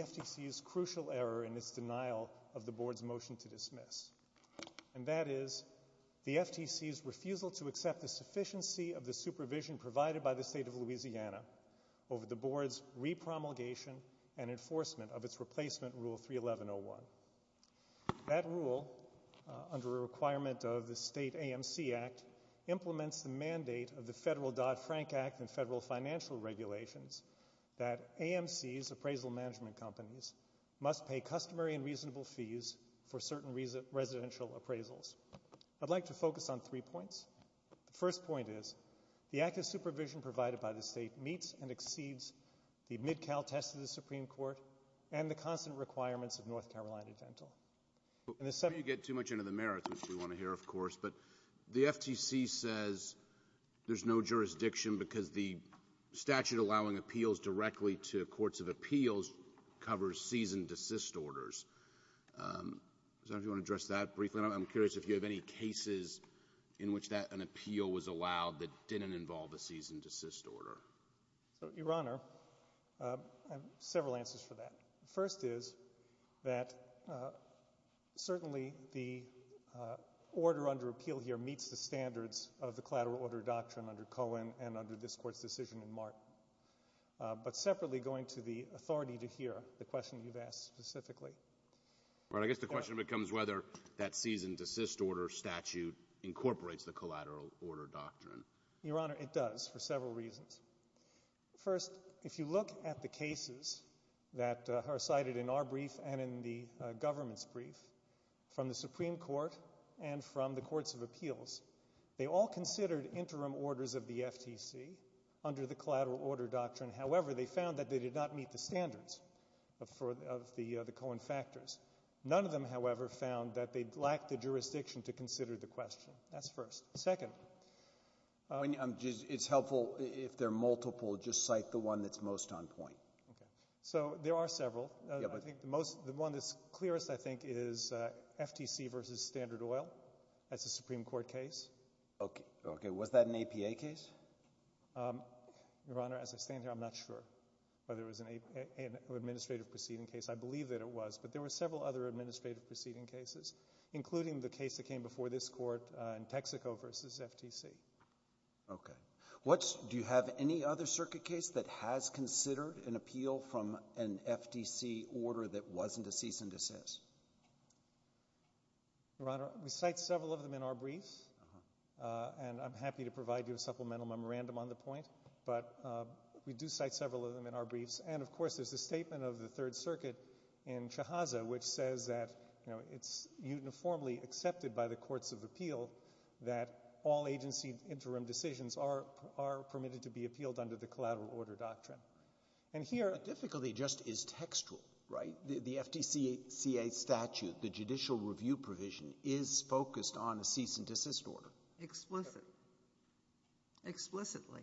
FTC's Crucial Error in its Denial of the Board's Motion to Dismiss, and that is, the FTC's refusal to accept the sufficiency of the supervision provided by the State of Louisiana over the Board's repromulgation and enforcement of its replacement Rule 311.01. That rule, under a requirement of the State AMC Act, implements the mandate of the Federal Dodd-Frank Act and federal financial regulations that AMCs, appraisal management companies, must pay customary and reasonable fees for certain residential appraisals. I'd like to focus on three points. The first point is, the active supervision provided by the State meets and exceeds the Mid-Cal test of the Supreme Court and the constant requirements of North Carolina Dental. Before you get too much into the merits, which we want to hear, of course, the FTC says there's no jurisdiction because the statute allowing appeals directly to courts of appeals covers cease-and-desist orders. Does anyone want to address that briefly? I'm curious if you have any cases in which an appeal was allowed that didn't involve a cease-and-desist order. Your Honor, I have several answers for that. The first is that certainly the order under appeal here meets the standards of the collateral order doctrine under Cohen and under this question you've asked specifically. I guess the question becomes whether that cease-and-desist order statute incorporates the collateral order doctrine. Your Honor, it does for several reasons. First, if you look at the cases that are cited in our brief and in the government's brief from the Supreme Court and from the courts of appeals, they all considered interim orders of the FTC under the collateral order doctrine. However, they found that they did not meet the standards of the Cohen factors. None of them, however, found that they lacked the jurisdiction to consider the question. That's first. Second. It's helpful if they're multiple, just cite the one that's most on point. So there are several. I think the one that's clearest, I think, is FTC v. Standard Oil as a Supreme Court case. Was that an APA case? Your Honor, as I stand here, I'm not sure whether it was an administrative proceeding case. I believe that it was, but there were several other administrative proceeding cases, including the case that came before this Court in Texaco v. FTC. Okay. Do you have any other circuit case that has considered an appeal from an FTC order that wasn't a cease-and-desist? Your Honor, we cite several of them in our briefs, and I'm happy to provide you a supplemental memorandum on the point, but we do cite several of them in our briefs. And, of course, there's the statement of the Third Circuit in Chahaza, which says that, you know, it's uniformly accepted by the courts of appeal that all agency interim decisions are permitted to be appealed under the collateral order doctrine. The difficulty just is textual, right? The FTCCA statute, the judicial review provision, is focused on a cease-and-desist order. Explicitly. Explicitly.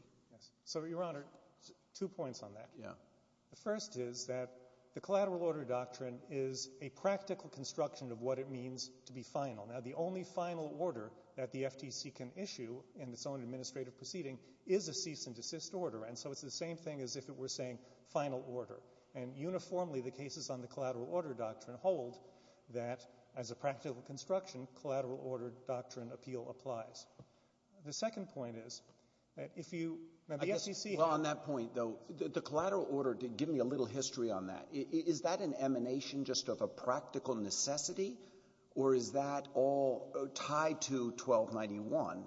So Your Honor, two points on that. The first is that the collateral order doctrine is a practical construction of what it means to be final. Now, the only final order that the FTC can issue in its own administrative proceeding is a cease-and-desist order, and so it's the statement, we're saying, final order. And uniformly, the cases on the collateral order doctrine hold that, as a practical construction, collateral order doctrine appeal applies. The second point is that if you – now, the SEC – Well, on that point, though, the collateral order – give me a little history on that. Is that an emanation just of a practical necessity, or is that all tied to 1291,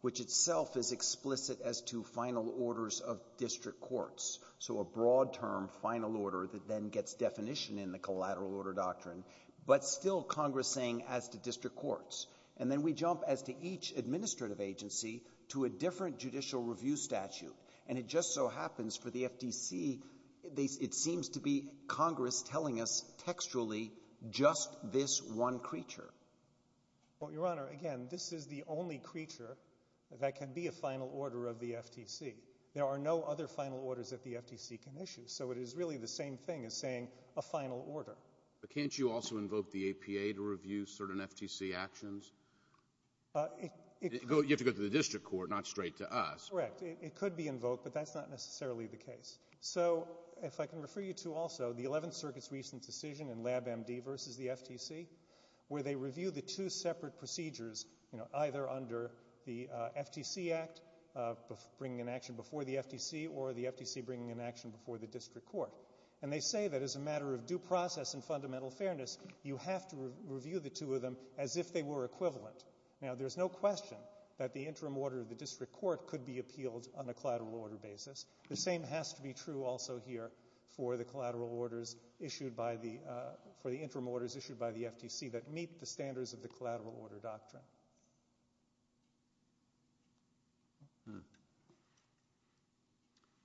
which itself is explicit as to final orders of district courts? So a broad-term final order that then gets definition in the collateral order doctrine, but still Congress saying as to district courts. And then we jump, as to each administrative agency, to a different judicial review statute. And it just so happens, for the FTC, it seems to be Congress telling us textually just this one creature. Well, Your Honor, again, this is the only creature that can be a final order of the FTC. There are no other final orders that the FTC can issue. So it is really the same thing as saying a final order. But can't you also invoke the APA to review certain FTC actions? You have to go to the district court, not straight to us. Correct. It could be invoked, but that's not necessarily the case. So if I can refer you to, also, the Eleventh Circuit's recent decision in LabMD versus the FTC, where they review the two separate procedures, either under the FTC Act, bringing an action before the FTC, or the FTC bringing an action before the district court. And they say that as a matter of due process and fundamental fairness, you have to review the two of them as if they were equivalent. Now, there's no question that the interim order of the district court could be appealed on a collateral order basis. The same has to be true, also, here for the collateral orders issued by the, for the interim orders issued by the FTC that meet the standards of the collateral order doctrine.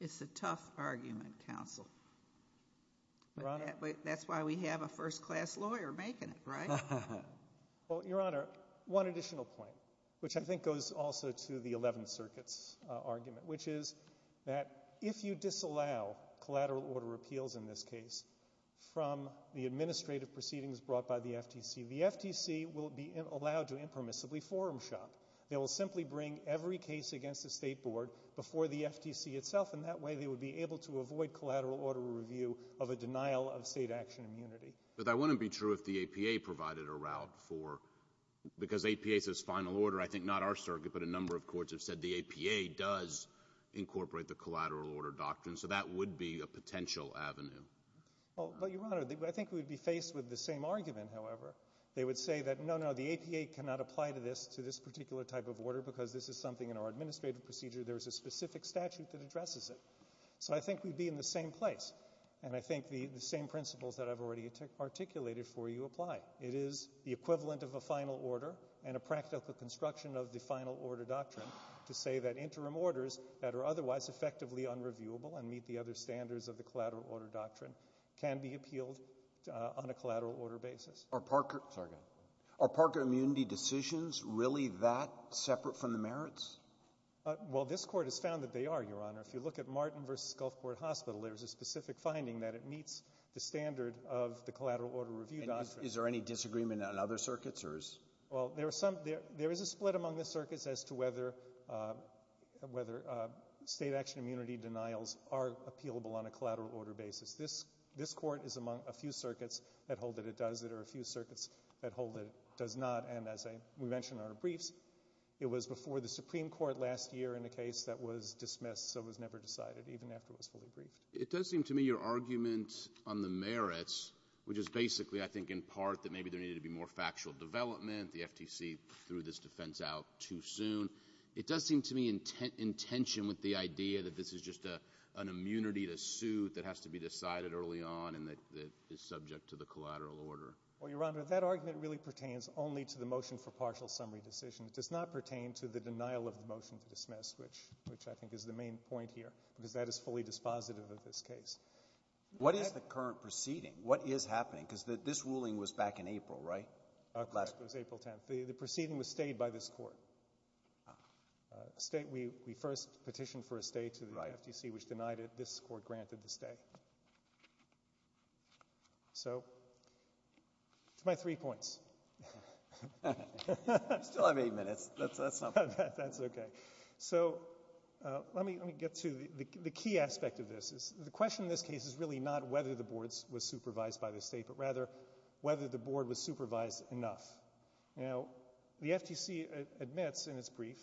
It's a tough argument, counsel. Your Honor? That's why we have a first-class lawyer making it, right? Well, Your Honor, one additional point, which I think goes also to the Eleventh Circuit's argument, which is that if you disallow collateral order appeals in this case from the administrative proceedings brought by the FTC, the FTC will be allowed to impermissibly forum shop. They will simply bring every case against the State Board before the FTC itself, and that way they would be able to avoid collateral order review of a denial of state action immunity. But that wouldn't be true if the APA provided a route for, because APA says final order, I think not our circuit, but a number of courts have said the APA does incorporate the collateral order doctrine, so that would be a potential avenue. Well, but Your Honor, I think we would be faced with the same argument, however. They would say that, no, no, the APA cannot apply to this, to this particular type of order because this is something in our administrative procedure, there's a specific statute that addresses it. So I think we'd be in the same place, and I think the, the same principles that I've already articulated for you apply. It is the equivalent of a final order and a practical construction of the final order doctrine to say that interim orders that are applicable to the collateral order doctrine can be appealed, uh, on a collateral order basis. Are Parker... Sorry, go ahead. Are Parker immunity decisions really that separate from the merits? Uh, well, this court has found that they are, Your Honor. If you look at Martin v. Gulf Court Hospital, there's a specific finding that it meets the standard of the collateral order review doctrine. And is, is there any disagreement on other circuits, or is... Well, there are some, there, there is a split among the circuits as to whether, uh, whether, uh, state action immunity denials are appealable on a collateral order basis. This, this court is among a few circuits that hold that it does, that are a few circuits that hold that it does not. And as I, we mentioned our briefs, it was before the Supreme Court last year in a case that was dismissed, so it was never decided, even after it was fully briefed. It does seem to me your argument on the merits, which is basically, I think, in part, that maybe there needed to be more factual development. The FTC threw this defense out too soon. It does seem to me intent, intention with the idea that this is just a, an immunity to suit that has to be decided early on and that, that is subject to the collateral order. Well, Your Honor, that argument really pertains only to the motion for partial summary decision. It does not pertain to the denial of the motion to dismiss, which, which I think is the main point here, because that is fully dispositive of this case. What is the current proceeding? What is happening? Because this ruling was back in April, right? It was April 10th. The proceeding was stayed by this Court. State, we, we first petitioned for a stay to the FTC, which denied it. This Court granted the stay. So, that's my three points. You still have eight minutes. That's, that's okay. So, let me, let me get to the, the key aspect of this. The question in this case is really not whether the board was supervised by the state, but rather whether the board was supervised enough. Now, the FTC admits in its brief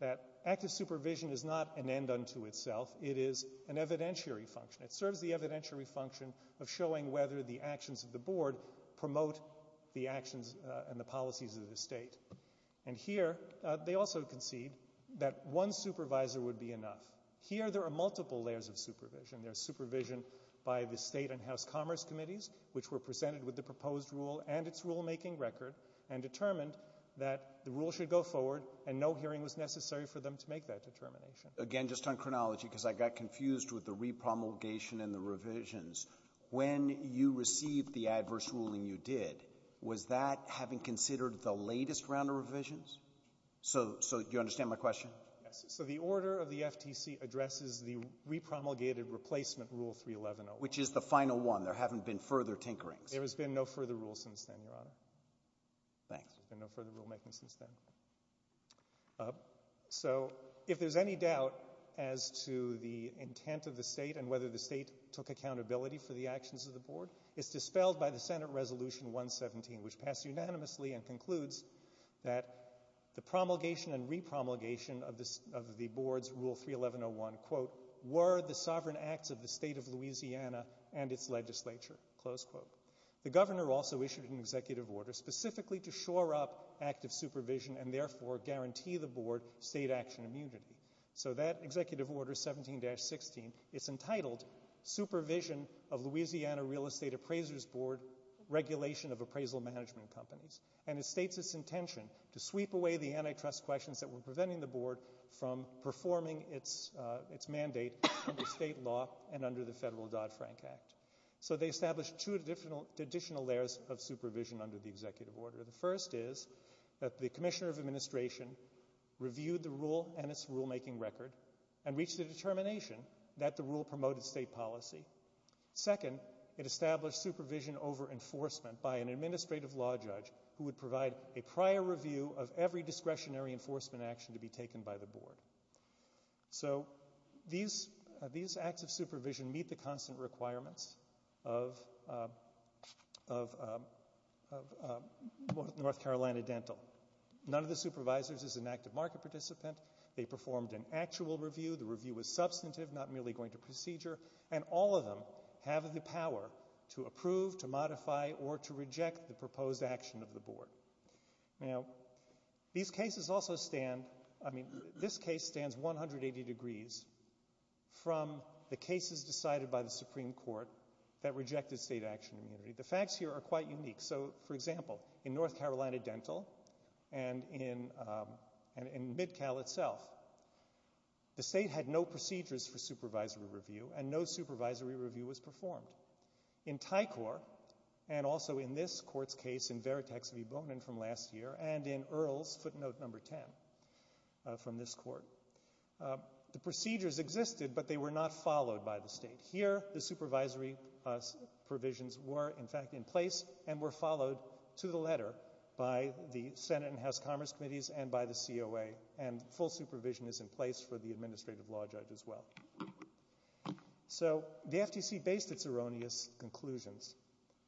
that active supervision is not an end unto itself. It is an evidentiary function. It serves the evidentiary function of showing whether the actions of the board promote the actions and the policies of the state. And here, they also concede that one supervisor would be enough. Here, there are multiple layers of supervision. There's supervision by the state and the proposed rule and its rulemaking record, and determined that the rule should go forward, and no hearing was necessary for them to make that determination. Again, just on chronology, because I got confused with the repromulgation and the revisions. When you received the adverse ruling you did, was that having considered the latest round of revisions? So, so, do you understand my question? Yes. So, the order of the FTC addresses the repromulgated replacement Rule 311-01. Which is the final one. There haven't been further tinkerings. There has been no further rules since then, Your Honor. Thanks. There's been no further rulemaking since then. So, if there's any doubt as to the intent of the state and whether the state took accountability for the actions of the board, it's dispelled by the Senate Resolution 117, which passed unanimously and concludes that the promulgation and repromulgation of the board's Rule 311-01, quote, were the sovereign acts of the state of Louisiana and its legislature. Close quote. The governor also issued an executive order specifically to shore up active supervision and therefore guarantee the board state action immunity. So that executive order, 17-16, it's entitled Supervision of Louisiana Real Estate Appraisers Board Regulation of Appraisal Management Companies. And it states its intention to sweep away the antitrust questions that were preventing the board from performing its mandate under state law and under the federal Dodd-Frank Act. So they established two additional layers of supervision under the executive order. The first is that the commissioner of administration reviewed the rule and its rulemaking record and reached a determination that the rule promoted state policy. Second, it established supervision over enforcement by an administrative law judge who would provide a prior review of every discretionary enforcement action to be taken by the board. So these acts of supervision meet the constant requirements of North Carolina Dental. None of the supervisors is an active market participant. They performed an actual review. The review was substantive, not merely going to procedure. And all of them have the power to approve, to modify, or to reject the proposed action of the board. Now, these cases also stand, I mean, this case stands 180 degrees from the cases decided by the Supreme Court that rejected state action immunity. The facts here are quite unique. So, for example, in North Carolina Dental and in MidCal itself, the state had no procedures for supervisory review and no supervisory review was performed. In Tycor and also in this court's case in Veritex v. Bonin from last year and in Earls, footnote number 10 from this court, the procedures existed, but they were not followed by the state. Here, the supervisory provisions were, in fact, in place and were followed to the letter by the Senate and House Commerce Committees and by the COA. And full supervision is in place for the administrative law judge as well. So, the FTC based its erroneous conclusions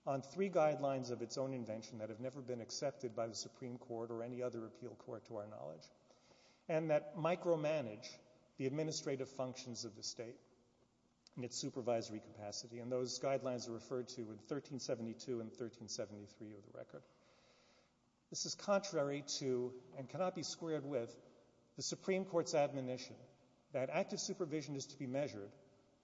on three guidelines of its own invention that have never been accepted by the Supreme Court or any other appeal court to our knowledge and that micromanage the administrative functions of the state in its supervisory capacity. And those guidelines are referred to in 1372 and 1373 of the record. This is contrary to, and cannot be squared with, the Supreme Court's admonition that active supervision is to be measured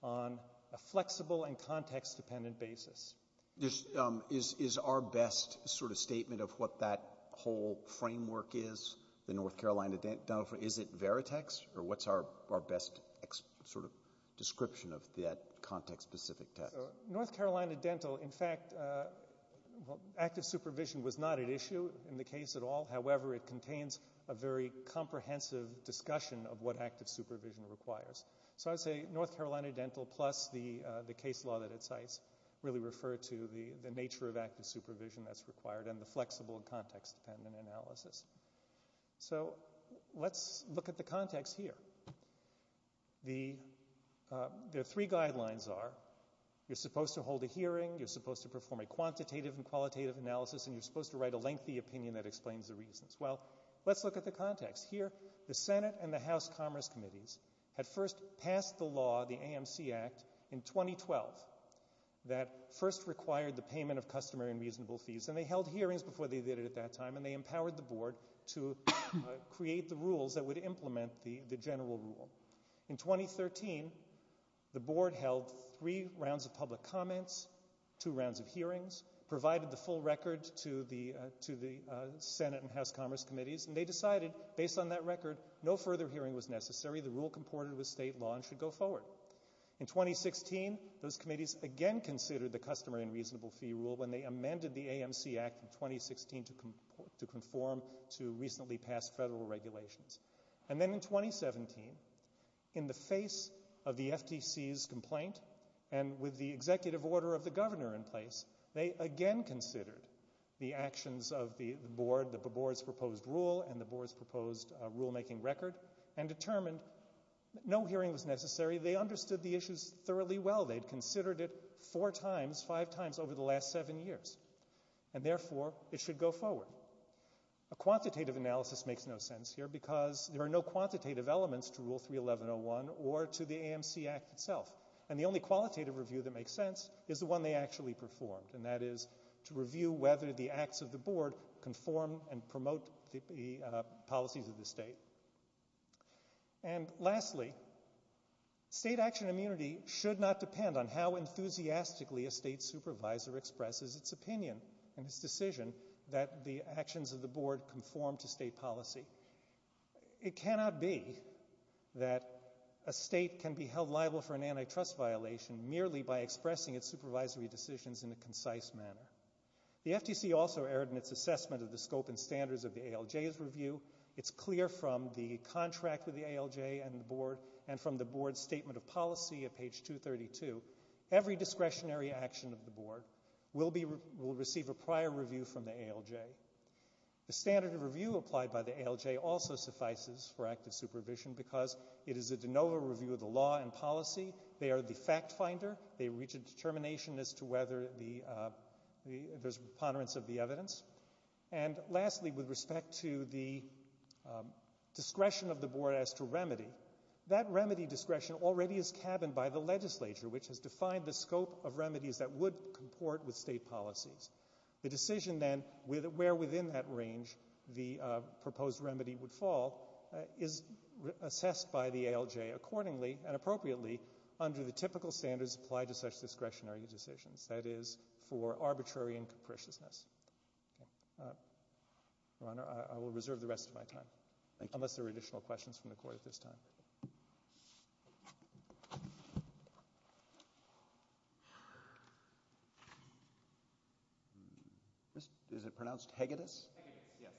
on a flexible and context-dependent basis. Is our best sort of statement of what that whole framework is, the North Carolina Dental, is it Veritex or what's our best sort of description of that context-specific test? North Carolina Dental, in fact, active supervision was not at issue in the case at all. However, it contains a very comprehensive discussion of what active supervision requires. So, I'd say North Carolina Dental plus the nature of active supervision that's required and the flexible context-dependent analysis. So, let's look at the context here. The three guidelines are, you're supposed to hold a hearing, you're supposed to perform a quantitative and qualitative analysis, and you're supposed to write a lengthy opinion that explains the reasons. Well, let's look at the context. Here, the Senate and the House Commerce Committees had first passed the law, the AMC Act, in 2012 that first required the payment of customary and reasonable fees, and they held hearings before they did it at that time, and they empowered the board to create the rules that would implement the general rule. In 2013, the board held three rounds of public comments, two rounds of hearings, provided the full record to the Senate and House Commerce Committees, and they decided, based on that record, no further hearing was necessary. The rule comported with state law and should go forward. In 2016, those committees again considered the customary and reasonable fee rule when they amended the AMC Act in 2016 to conform to recently passed federal regulations. And then in 2017, in the face of the FTC's complaint and with the executive order of the governor in place, they again considered the actions of the board, the board's proposed rule and the board's proposed rulemaking record, and determined no hearing was necessary. They understood the issues thoroughly well. They'd considered it four times, five times over the last seven years. And therefore, it should go forward. A quantitative analysis makes no sense here because there are no quantitative elements to Rule 311-01 or to the AMC Act itself. And the only qualitative review that makes sense is the one they actually performed, and that is to review whether the acts of the board conform and promote the policies of the state. And lastly, state action immunity should not depend on how enthusiastically a state supervisor expresses its opinion and its decision that the actions of the board conform to state policy. It cannot be that a state can be held liable for an antitrust violation merely by expressing its supervisory decisions in a concise manner. The FTC also erred in its assessment of the scope and standards of the ALJ's review. It's clear from the contract with the ALJ and the board and from the board's statement of policy at page 232, every discretionary action of the board will receive a prior review from the ALJ. The standard of review applied by the ALJ also suffices for active supervision because it is a de novo review of the law and policy. They are the fact finder. They reach a determination as to whether there's a preponderance of the evidence. And lastly, with respect to the discretion of the board as to remedy, that remedy discretion already is cabined by the legislature which has defined the scope of remedies that would comport with state policies. The decision then where within that range the proposed remedy would fall is assessed by the ALJ accordingly and appropriately under the typical standards applied to such discretionary decisions, that is for arbitrary and capriciousness. Your Honor, I will reserve the rest of my time. Thank you. Unless there are additional questions from the court at this time. Is it pronounced Hegedus? Hegedus, yes.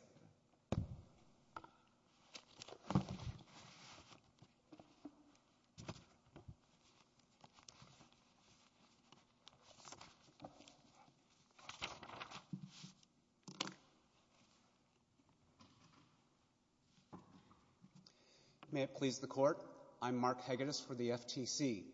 May it please the court. I'm Mark Hegedus for the FTC.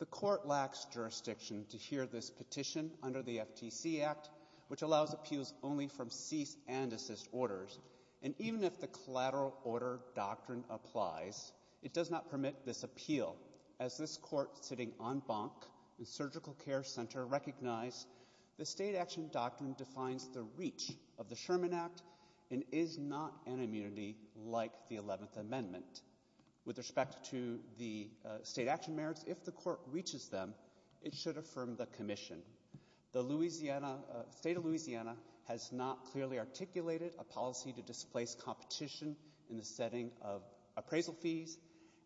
The court lacks jurisdiction to hear this petition under the FTC Act which allows appeals only from cease and assist orders. And even if the collateral order doctrine applies, it does not permit this appeal as this court sitting en banc in Surgical Care Center recognized the state action doctrine defines the reach of the Sherman Act and is not an immunity like the 11th Amendment. With respect to the state action merits, if the court reaches them, it should affirm the commission. The Louisiana State of Louisiana has not clearly articulated a policy to displace competition in the setting of appraisal fees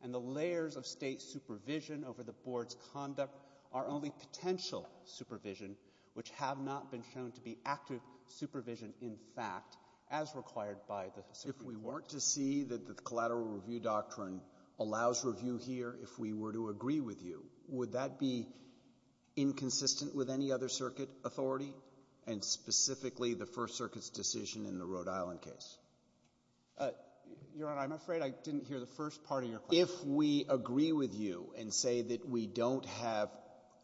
and the layers of state supervision over the board's conduct are only potential supervision which have not been shown to be active supervision in fact as required by the Supreme Court. If we weren't to see that the collateral review doctrine allows review here if we were to agree with you, would that be inconsistent with any other circuit authority and specifically the First Circuit's decision in the Rhode Island case? Your Honor, I'm afraid I didn't hear the first part of your question. If we agree with you and say that we don't have,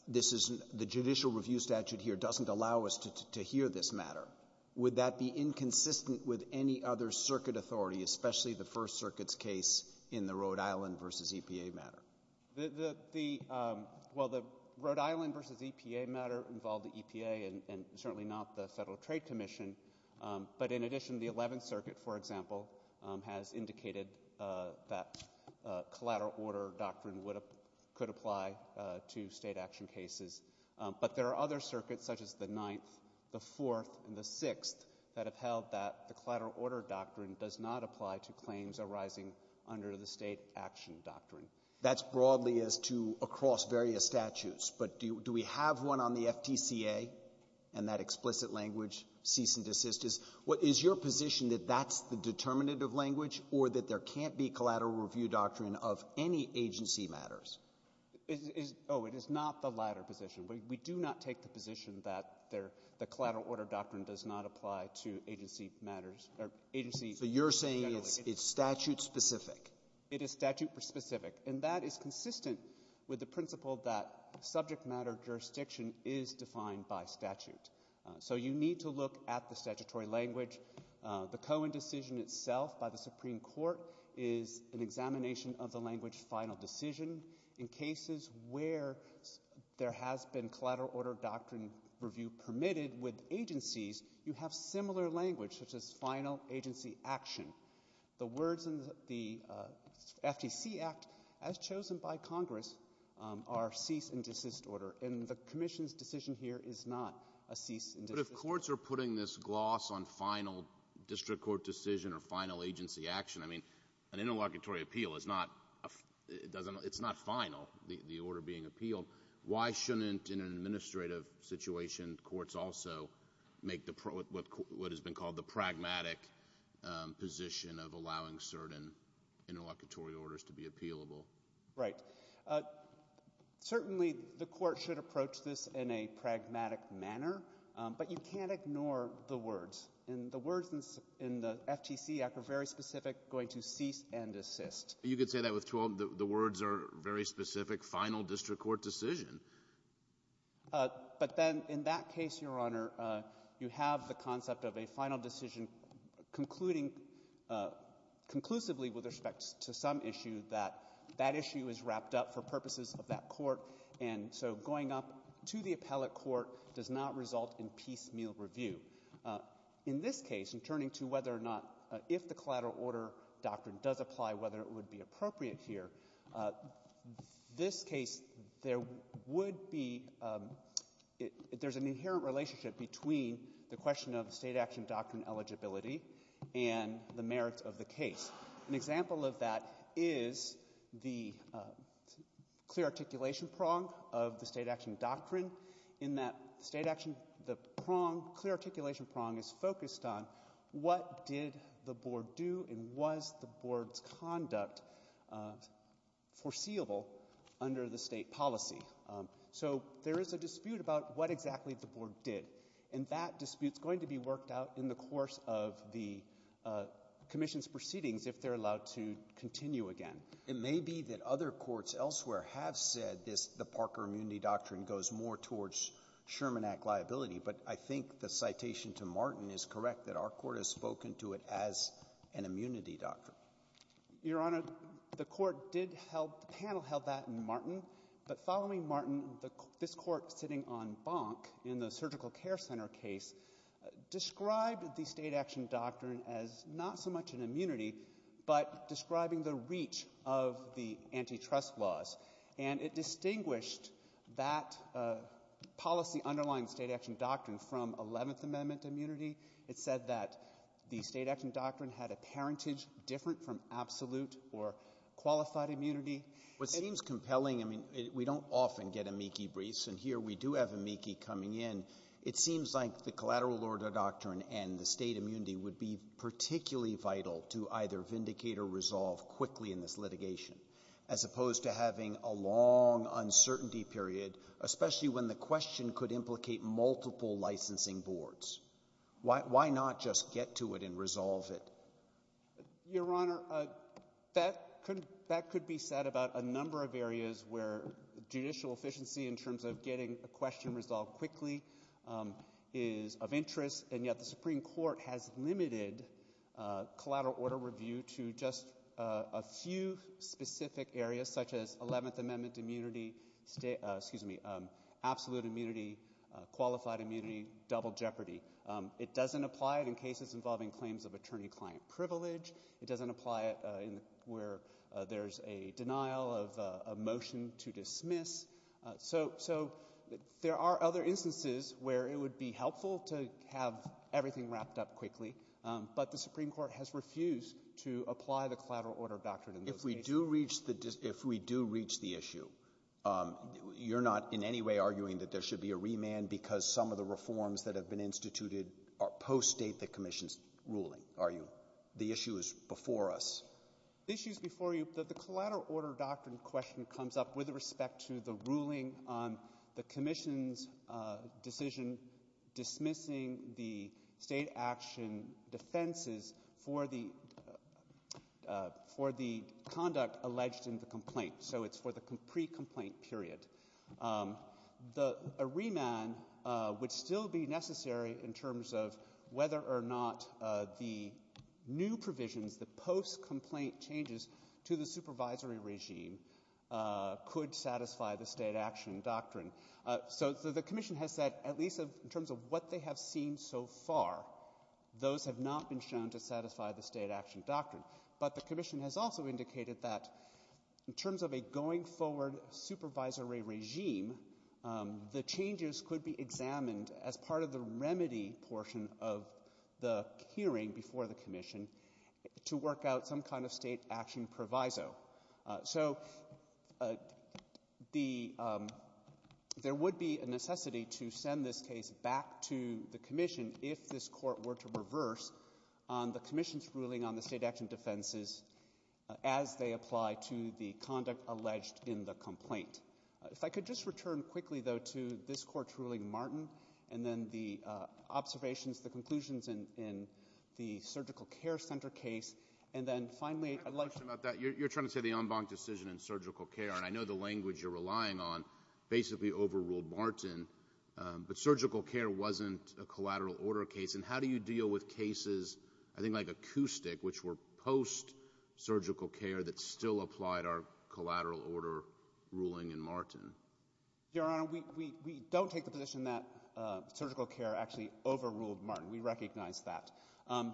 the judicial review statute here doesn't allow us to hear this matter, would that be inconsistent with any other circuit authority, especially the First Circuit's case in the Rhode Island v. EPA matter? Well, the Rhode Island v. EPA matter involved the EPA and certainly not the Federal Trade Commission. But in addition, the 11th Circuit, for example, has indicated that collateral order doctrine could apply to State action cases. But there are other circuits such as the 9th, the 4th, and the 6th that have held that the collateral order doctrine does not apply to claims arising under the State action doctrine. That's broadly as to across various statutes, but do we have one on the FTCA and that explicit language, cease and desist? Is your position that that's the determinative language or that there can't be collateral review doctrine of any agency matters? Oh, it is not the latter position. We do not take the position that the collateral order doctrine does not apply to agency matters or agency generally. So you're saying it's statute-specific? It is statute-specific. And that is consistent with the principle that subject matter jurisdiction is defined by statute. So you need to look at the statutory language. The Cohen decision itself by the Supreme Court is an examination of the language final decision. In cases where there has been collateral order doctrine review permitted with agencies, you have similar language, such as final agency action. The words in the FTC Act, as chosen by Congress, are cease and desist order. And the Commission's decision here is not a cease and desist order. But if courts are putting this gloss on final district court decision or final agency action, I mean, an interlocutory appeal, it's not final, the order being appealed. Why shouldn't, in an administrative situation, courts also make what has been called the pragmatic position of allowing certain interlocutory orders to be appealable? Right. Certainly the court should approach this in a pragmatic manner. But you can't ignore the words. And the words in the FTC Act are very specific, going to cease and desist. You could say that with 12, the words are very specific, final district court decision. But then in that case, Your Honor, you have the concept of a final decision concluding conclusively with respect to some issue that that issue is wrapped up for purposes of that court. And so going up to the appellate court does not result in piecemeal review. In this case, in turning to whether or not, if the collateral order doctrine does apply, whether it would be appropriate here, this case there would be, there's an inherent relationship between the question of state action doctrine eligibility and the merits of the case. An example of that is the clear articulation prong of the state action, the prong, clear articulation prong is focused on what did the Board do and was the Board's conduct foreseeable under the State policy. So there is a dispute about what exactly the Board did. And that dispute's going to be worked out in the course of the Commission's proceedings if they're allowed to continue again. It may be that other courts elsewhere have said this, the Parker immunity doctrine goes more towards Sherman Act liability, but I think the citation to Martin is correct that our Court has spoken to it as an immunity doctrine. Your Honor, the Court did help, the panel held that in Martin. But following Martin, this Court sitting on Bonk in the Surgical Care Center case described the state action doctrine as not so much an immunity, but describing the reach of the antitrust laws. And it said that policy underlying state action doctrine from Eleventh Amendment immunity, it said that the state action doctrine had a parentage different from absolute or qualified immunity. What seems compelling, I mean, we don't often get amici briefs, and here we do have amici coming in, it seems like the collateral order doctrine and the state immunity would be particularly vital to either vindicate or resolve quickly in this litigation, as opposed to having a long uncertainty period, especially when the question could implicate multiple licensing boards. Why not just get to it and resolve it? Your Honor, that could be said about a number of areas where judicial efficiency in terms of getting a question resolved quickly is of interest, and yet the Supreme Court has limited collateral order review to just a few specific areas such as Eleventh Amendment immunity, absolute immunity, qualified immunity, double jeopardy. It doesn't apply in cases involving claims of attorney-client privilege. It doesn't apply where there's a denial of motion to dismiss. So there are other instances where it would be helpful to have everything wrapped up quickly, but the Supreme Court has refused to apply the collateral order doctrine in those cases. If we do reach the issue, you're not in any way arguing that there should be a remand because some of the reforms that have been instituted are post-State the Commission's ruling, are you? The issue is before us. The issue is before you. The collateral order doctrine question comes up with respect to the ruling on the Commission's decision dismissing the State action defenses for the conduct alleged in the complaint. So it's for the pre-complaint period. A remand would still be necessary in terms of whether or not the new provisions, the post-complaint changes to the supervisory regime could satisfy the State action doctrine. So the Commission has said, at least in terms of what they have seen so far, those have not been shown to satisfy the State action doctrine. But the Commission has also indicated that in terms of a going forward supervisory regime, the changes could be examined as part of the remedy portion of the hearing before the Commission to work out some kind of State action proviso. So there would be a necessity to send this case back to the Commission if this Court were to reverse on the Commission's ruling on the State action defenses as they apply to the conduct alleged in the complaint. If I could just return quickly, though, to this Court's ruling, Martin, and then the observations, the conclusions in the surgical care center case, and then finally, I'd like to... I have a question about that. You're trying to say the en banc decision in surgical care, and I know the language you're relying on basically overruled Martin, but surgical care wasn't a collateral order case. And how do you deal with cases, I think like acoustic, which were post surgical care that still applied our collateral order ruling in Martin? Your Honor, we don't take the position that surgical care actually overruled Martin. We recognize that.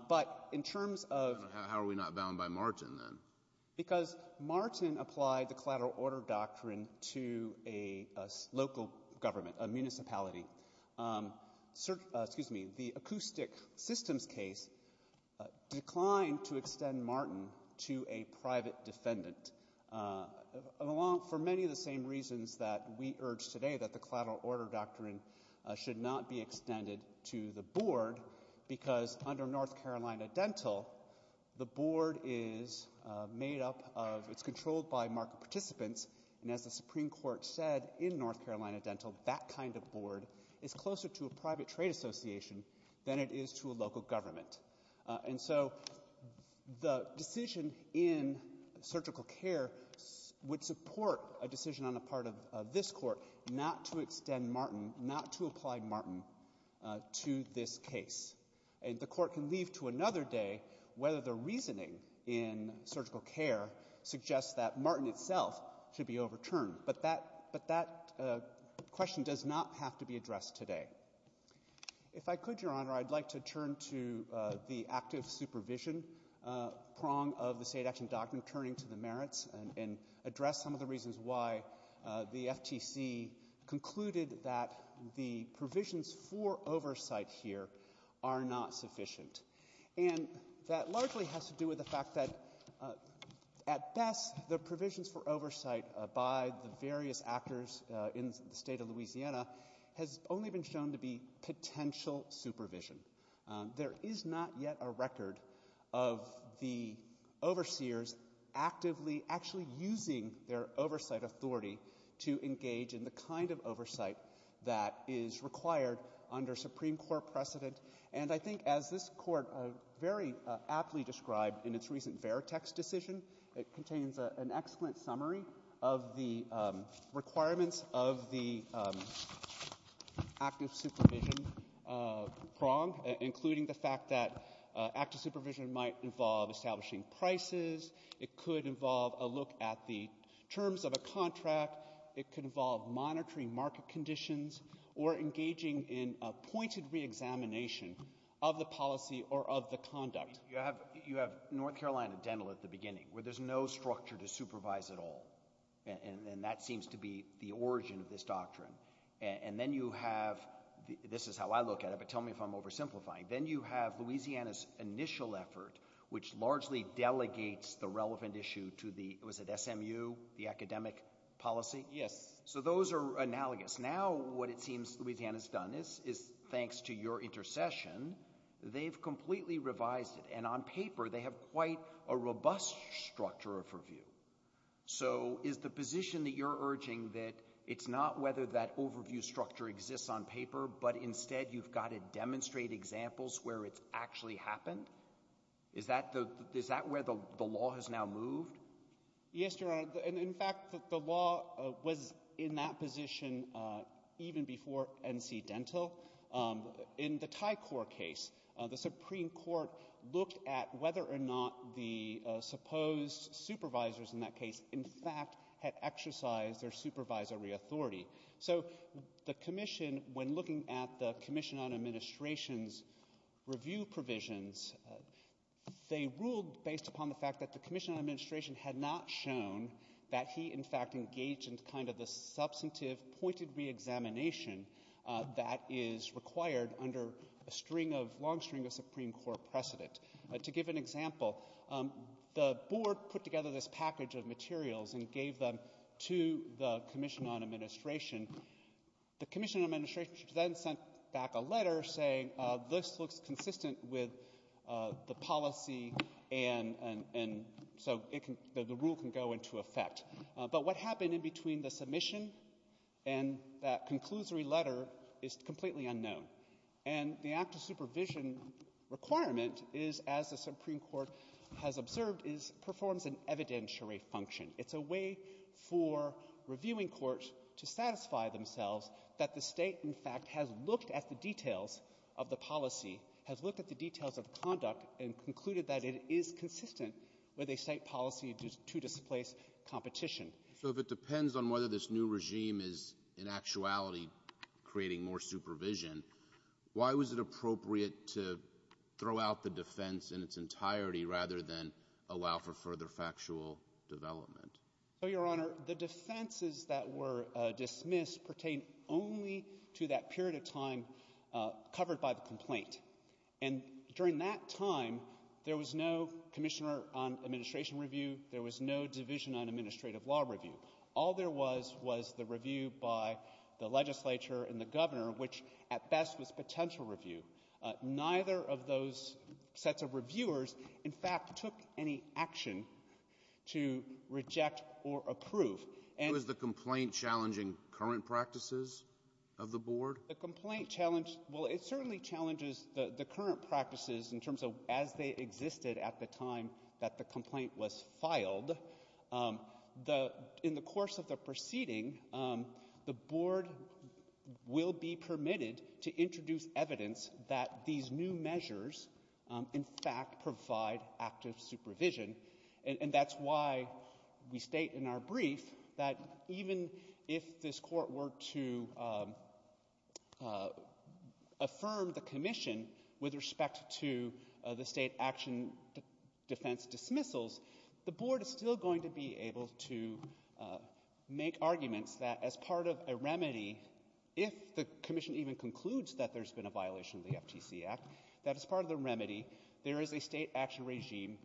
But in terms of... How are we not bound by Martin, then? Because Martin applied the collateral order doctrine to a local government, a municipality. The acoustic systems case declined to extend Martin to a private defendant, for many of the same reasons that we urge today, that the collateral order doctrine should not be extended to the Board, because under North Carolina Dental, the Board is made up of... It's controlled by market participants, and as the Supreme Court said in North Carolina Dental, that kind of Board is closer to a private trade association than it is to a local government. And so the decision in surgical care would support a decision on the part of this Court not to extend Martin, not to apply Martin to this case. And the Court can leave to another day whether the reasoning in surgical care suggests that Martin itself should be overturned. But that question does not have to be addressed today. If I could, Your Honor, I'd like to turn to the active supervision prong of the State Action Doctrine, turning to the merits and address some of the reasons why the FTC concluded that the provisions for oversight here are not sufficient. And that largely has to do with the fact that, at best, the oversight of various actors in the State of Louisiana has only been shown to be potential supervision. There is not yet a record of the overseers actively actually using their oversight authority to engage in the kind of oversight that is required under Supreme Court precedent. And I think, as this Court very aptly described in its recent Veritex decision, it contains an excellent summary of the requirements of the active supervision prong, including the fact that active supervision might involve establishing prices. It could involve a look at the terms of a contract. It could involve monitoring market conditions or engaging in a pointed reexamination of the policy or of the conduct. You have North Carolina Dental at the beginning, where there's no structure to supervise at all. And that seems to be the origin of this doctrine. And then you have, this is how I look at it, but tell me if I'm oversimplifying. Then you have Louisiana's initial effort, which largely delegates the relevant issue to the, was it SMU, the academic policy? Yes. So those are analogous. Now what it seems Louisiana's done is, thanks to your intercession, they've completely revised it. And on paper, they have quite a robust structure of review. So is the position that you're urging that it's not whether that overview structure exists on paper, but instead you've got to demonstrate examples where it's actually happened? Is that where the law has now moved? Yes, Your Honor. And in fact, the law was in that position even before NC Dental. In the Tycor case, the Supreme Court looked at whether or not the supposed supervisors in that case, in fact, had exercised their supervisory authority. So the Commission, when looking at the Commission on Administration's review provisions, they ruled based upon the fact that the Commission on Administration had not shown that he, in fact, engaged in kind of the substantive pointed reexamination that is required under a long string of Supreme Court precedent. To give an example, the Board put together this package of materials and gave them to the Commission on Administration. The Commission on Administration then sent back a letter saying this looks consistent with the policy and so the rule can go into effect. But what happened in between the submission and that conclusory letter is completely unknown. And the act of supervision requirement is, as the Supreme Court has observed, is it performs an evidentiary function. It's a way for reviewing courts to satisfy themselves that the State, in fact, has looked at the details of the policy, has looked at the details of conduct, and concluded that it is consistent with a State policy to displace competition. So if it depends on whether this new regime is in actuality creating more supervision, why was it appropriate to throw out the defense in its entirety rather than allow for further factual development? Your Honor, the defenses that were dismissed pertain only to that period of time covered by the complaint. And during that time, there was no Commissioner on Administrative Law review. All there was was the review by the Legislature and the Governor, which at best was potential review. Neither of those sets of reviewers, in fact, took any action to reject or approve. Was the complaint challenging current practices of the Board? The complaint challenged, well, it certainly challenges the current practices of the Board. The complaint was filed. In the course of the proceeding, the Board will be permitted to introduce evidence that these new measures, in fact, provide active supervision. And that's why we state in our brief that even if this Court were to affirm the Commission with respect to the State Action Defense dismissals, the Board is still going to be able to make arguments that as part of a remedy, if the Commission even concludes that there's been a violation of the FTC Act, that as part of the remedy, there is a State Action Regime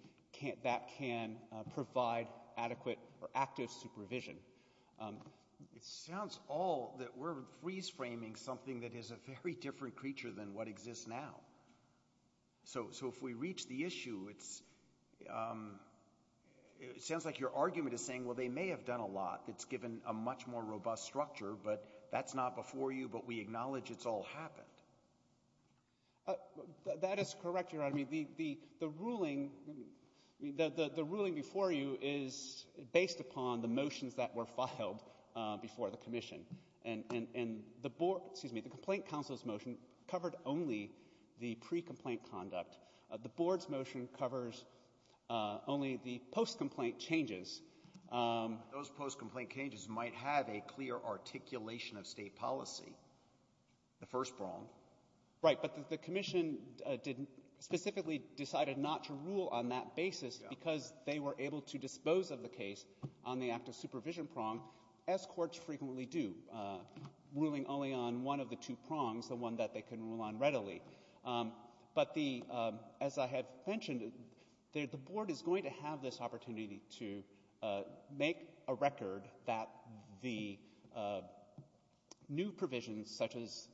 that can provide adequate or active supervision. It sounds all that we're freeze-framing something that is a very different creature than what exists now. So if we reach the issue, it sounds like your argument is saying, well, they may have done a lot that's given a much more robust structure, but that's not before you, but we acknowledge it's all happened. That is correct, Your Honor. I mean, the ruling before you is based upon the motions that were filed before the Commission. And the complaint counsel's motion covered only the pre-complaint conduct. The Board's motion covers only the post-complaint changes. Those post-complaint changes might have a clear articulation of State policy, the first prong. Right, but the Commission specifically decided not to rule on that basis because they were able to dispose of the case on the active supervision prong, as courts frequently do, ruling only on one of the two prongs, the one that they can rule on readily. But as I have mentioned, the Board is going to have this opportunity to make a record that the new provisions such as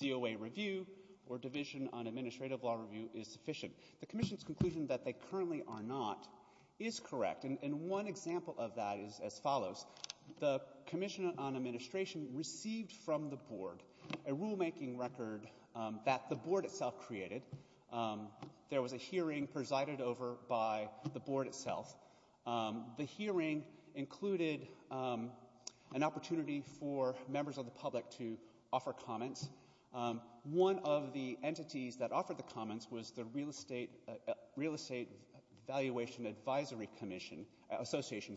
COA review or division on administrative law review is sufficient. The Commission's conclusion that they currently are not is correct. And one example of that is as follows. The Commission on Board, a rulemaking record that the Board itself created. There was a hearing presided over by the Board itself. The hearing included an opportunity for members of the public to offer comments. One of the entities that offered the comments was the Real Estate Valuation Advisory Association.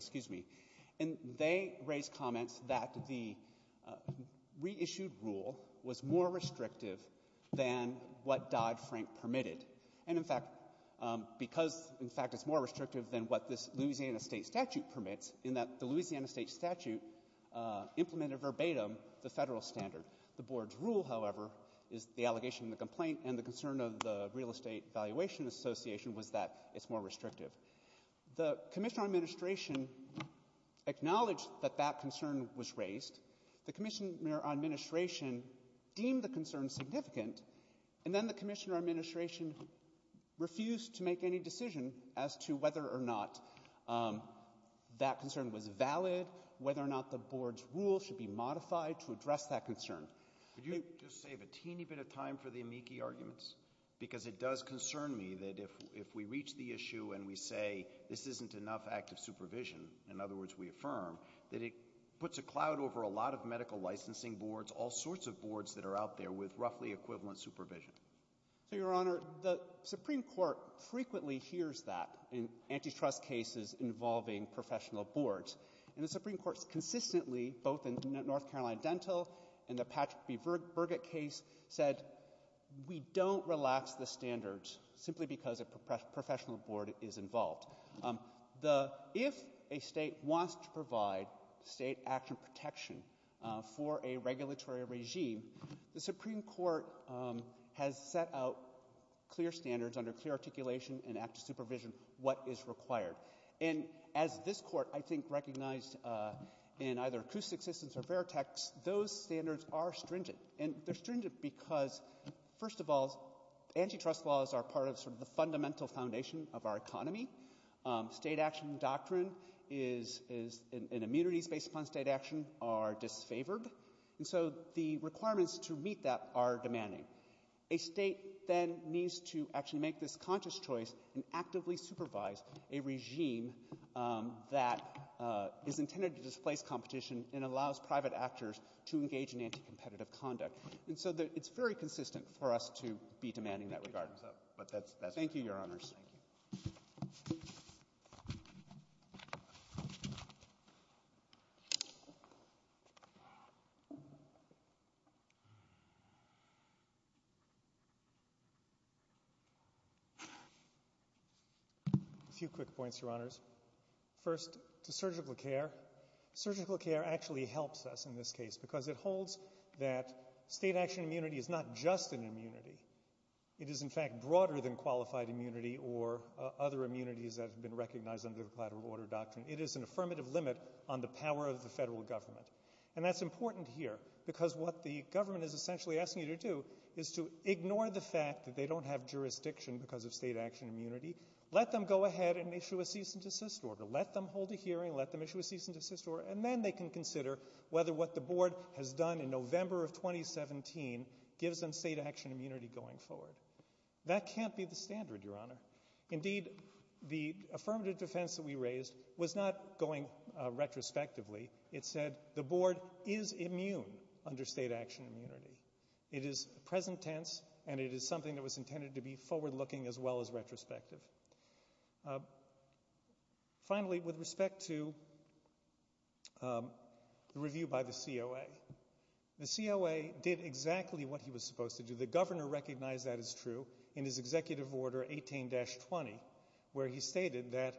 And they raised comments that the issued rule was more restrictive than what Dodd-Frank permitted. And in fact, because in fact it's more restrictive than what this Louisiana state statute permits, in that the Louisiana state statute implemented verbatim the federal standard. The Board's rule, however, is the allegation and the complaint, and the concern of the Real Estate Valuation Association was that it's more restrictive. The Commissioner on Administration acknowledged that that concern was raised. The Commissioner on Administration deemed the concern significant, and then the Commissioner on Administration refused to make any decision as to whether or not that concern was valid, whether or not the Board's rule should be modified to address that concern. Could you just save a teeny bit of time for the amici arguments? Because it does concern me that if we reach the issue and we say this isn't enough active the Supreme Court frequently hears that in antitrust cases involving professional boards. And the Supreme Court consistently, both in North Carolina Dental and the Patrick B. Burgett case, said we don't relax the standards simply because a professional board is involved. state action protection, the Supreme Court should for a regulatory regime, the Supreme Court has set out clear standards under clear articulation and active supervision what is required. And as this Court I think recognized in either Couste existence or Veritex, those standards are stringent. And they're stringent because, first of all, antitrust laws are part of sort of the fundamental foundation of our economy. State action doctrine is and immunities based upon state action are disfavored. And so the requirements to meet that are demanding. A State then needs to actually make this conscious choice and actively supervise a regime that is intended to displace competition and allows private actors to engage in anti-competitive conduct. And so it's very consistent for us to be demanding that regard. Thank you, Your Honors. Thank you. A few quick points, Your Honors. First, to surgical care. Surgical care actually helps us in this case because it holds that state action immunity is not just an immunity. It is in fact broader than qualified immunity or other immunities that have been recognized under the collateral order doctrine. It is an affirmative limit on the power of the federal government. And that's important here because what the government is essentially asking you to do is to ignore the fact that they don't have jurisdiction because of state action immunity. Let them go ahead and issue a cease and desist order. Let them hold a hearing. Let them issue a cease and desist order. And then they can consider whether what the Board has done in November of 2017 gives them state action immunity going forward. That can't be the standard, Your Honor. Indeed, the affirmative defense that we raised was not going retrospectively. It said the Board is immune under state action immunity. It is present tense and it is something that was intended to be forward-looking as well as retrospective. Finally, with respect to the review by the COA. The COA did exactly what he was supposed to do. The Governor recognized that as true in his Executive Order 18-20 where he stated that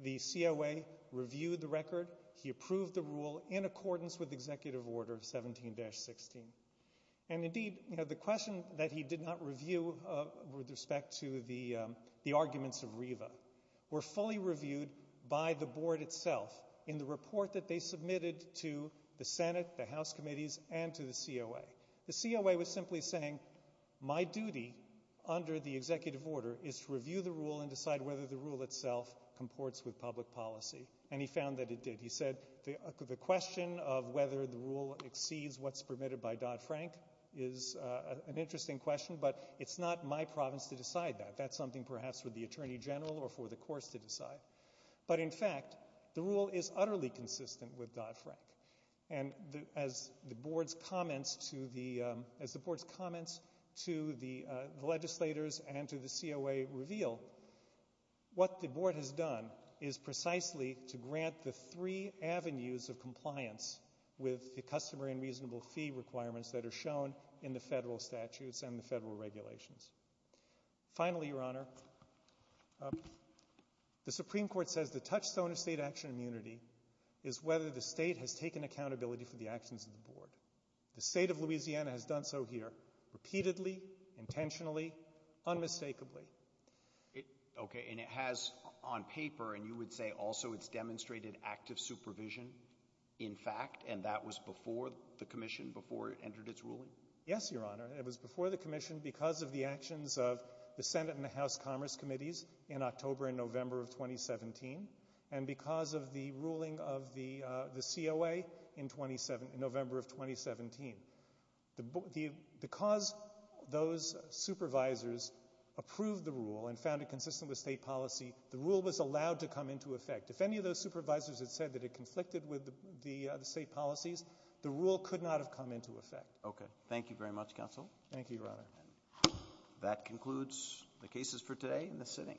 the COA reviewed the record. He approved the rule in accordance with Executive Order 17-16. And indeed, the question that he did not review with respect to the arguments of RIVA were fully reviewed by the Board itself in the report that they submitted to the Senate, the House Committees, and to the COA. The COA was simply saying my duty under the Executive Order is to review the rule and decide whether the rule itself comports with public policy. And he found that it did. He said the question of whether the rule exceeds what's permitted by Dodd-Frank is an interesting question, but it's not my province to decide that. That's something perhaps for the Attorney General or for the courts to decide. But in fact, the rule is utterly consistent with Dodd-Frank. And as the Board's comments to the legislators and to the COA reveal, what the Board has done is precisely to grant the three avenues of compliance with the customer and reasonable fee requirements that are shown in the federal statutes and the federal regulations. Finally, Your Honor, the Supreme Court says the touchstone of the State has taken accountability for the actions of the Board. The State of Louisiana has done so here repeatedly, intentionally, unmistakably. Okay, and it has on paper, and you would say also it's demonstrated active supervision in fact, and that was before the Commission, before it entered its ruling? Yes, Your Honor. It was before the Commission because of the actions of the Senate and the House Commerce Committees in October and November of 2017, and because of the ruling of the COA in November of 2017. Because those supervisors approved the rule and found it consistent with State policy, the rule was allowed to come into effect. If any of those supervisors had said that it conflicted with the State policies, the rule could not have come into effect. Okay. Thank you very much, Counsel. Thank you, Your Honor. That concludes the cases for today in the sitting. Thank you.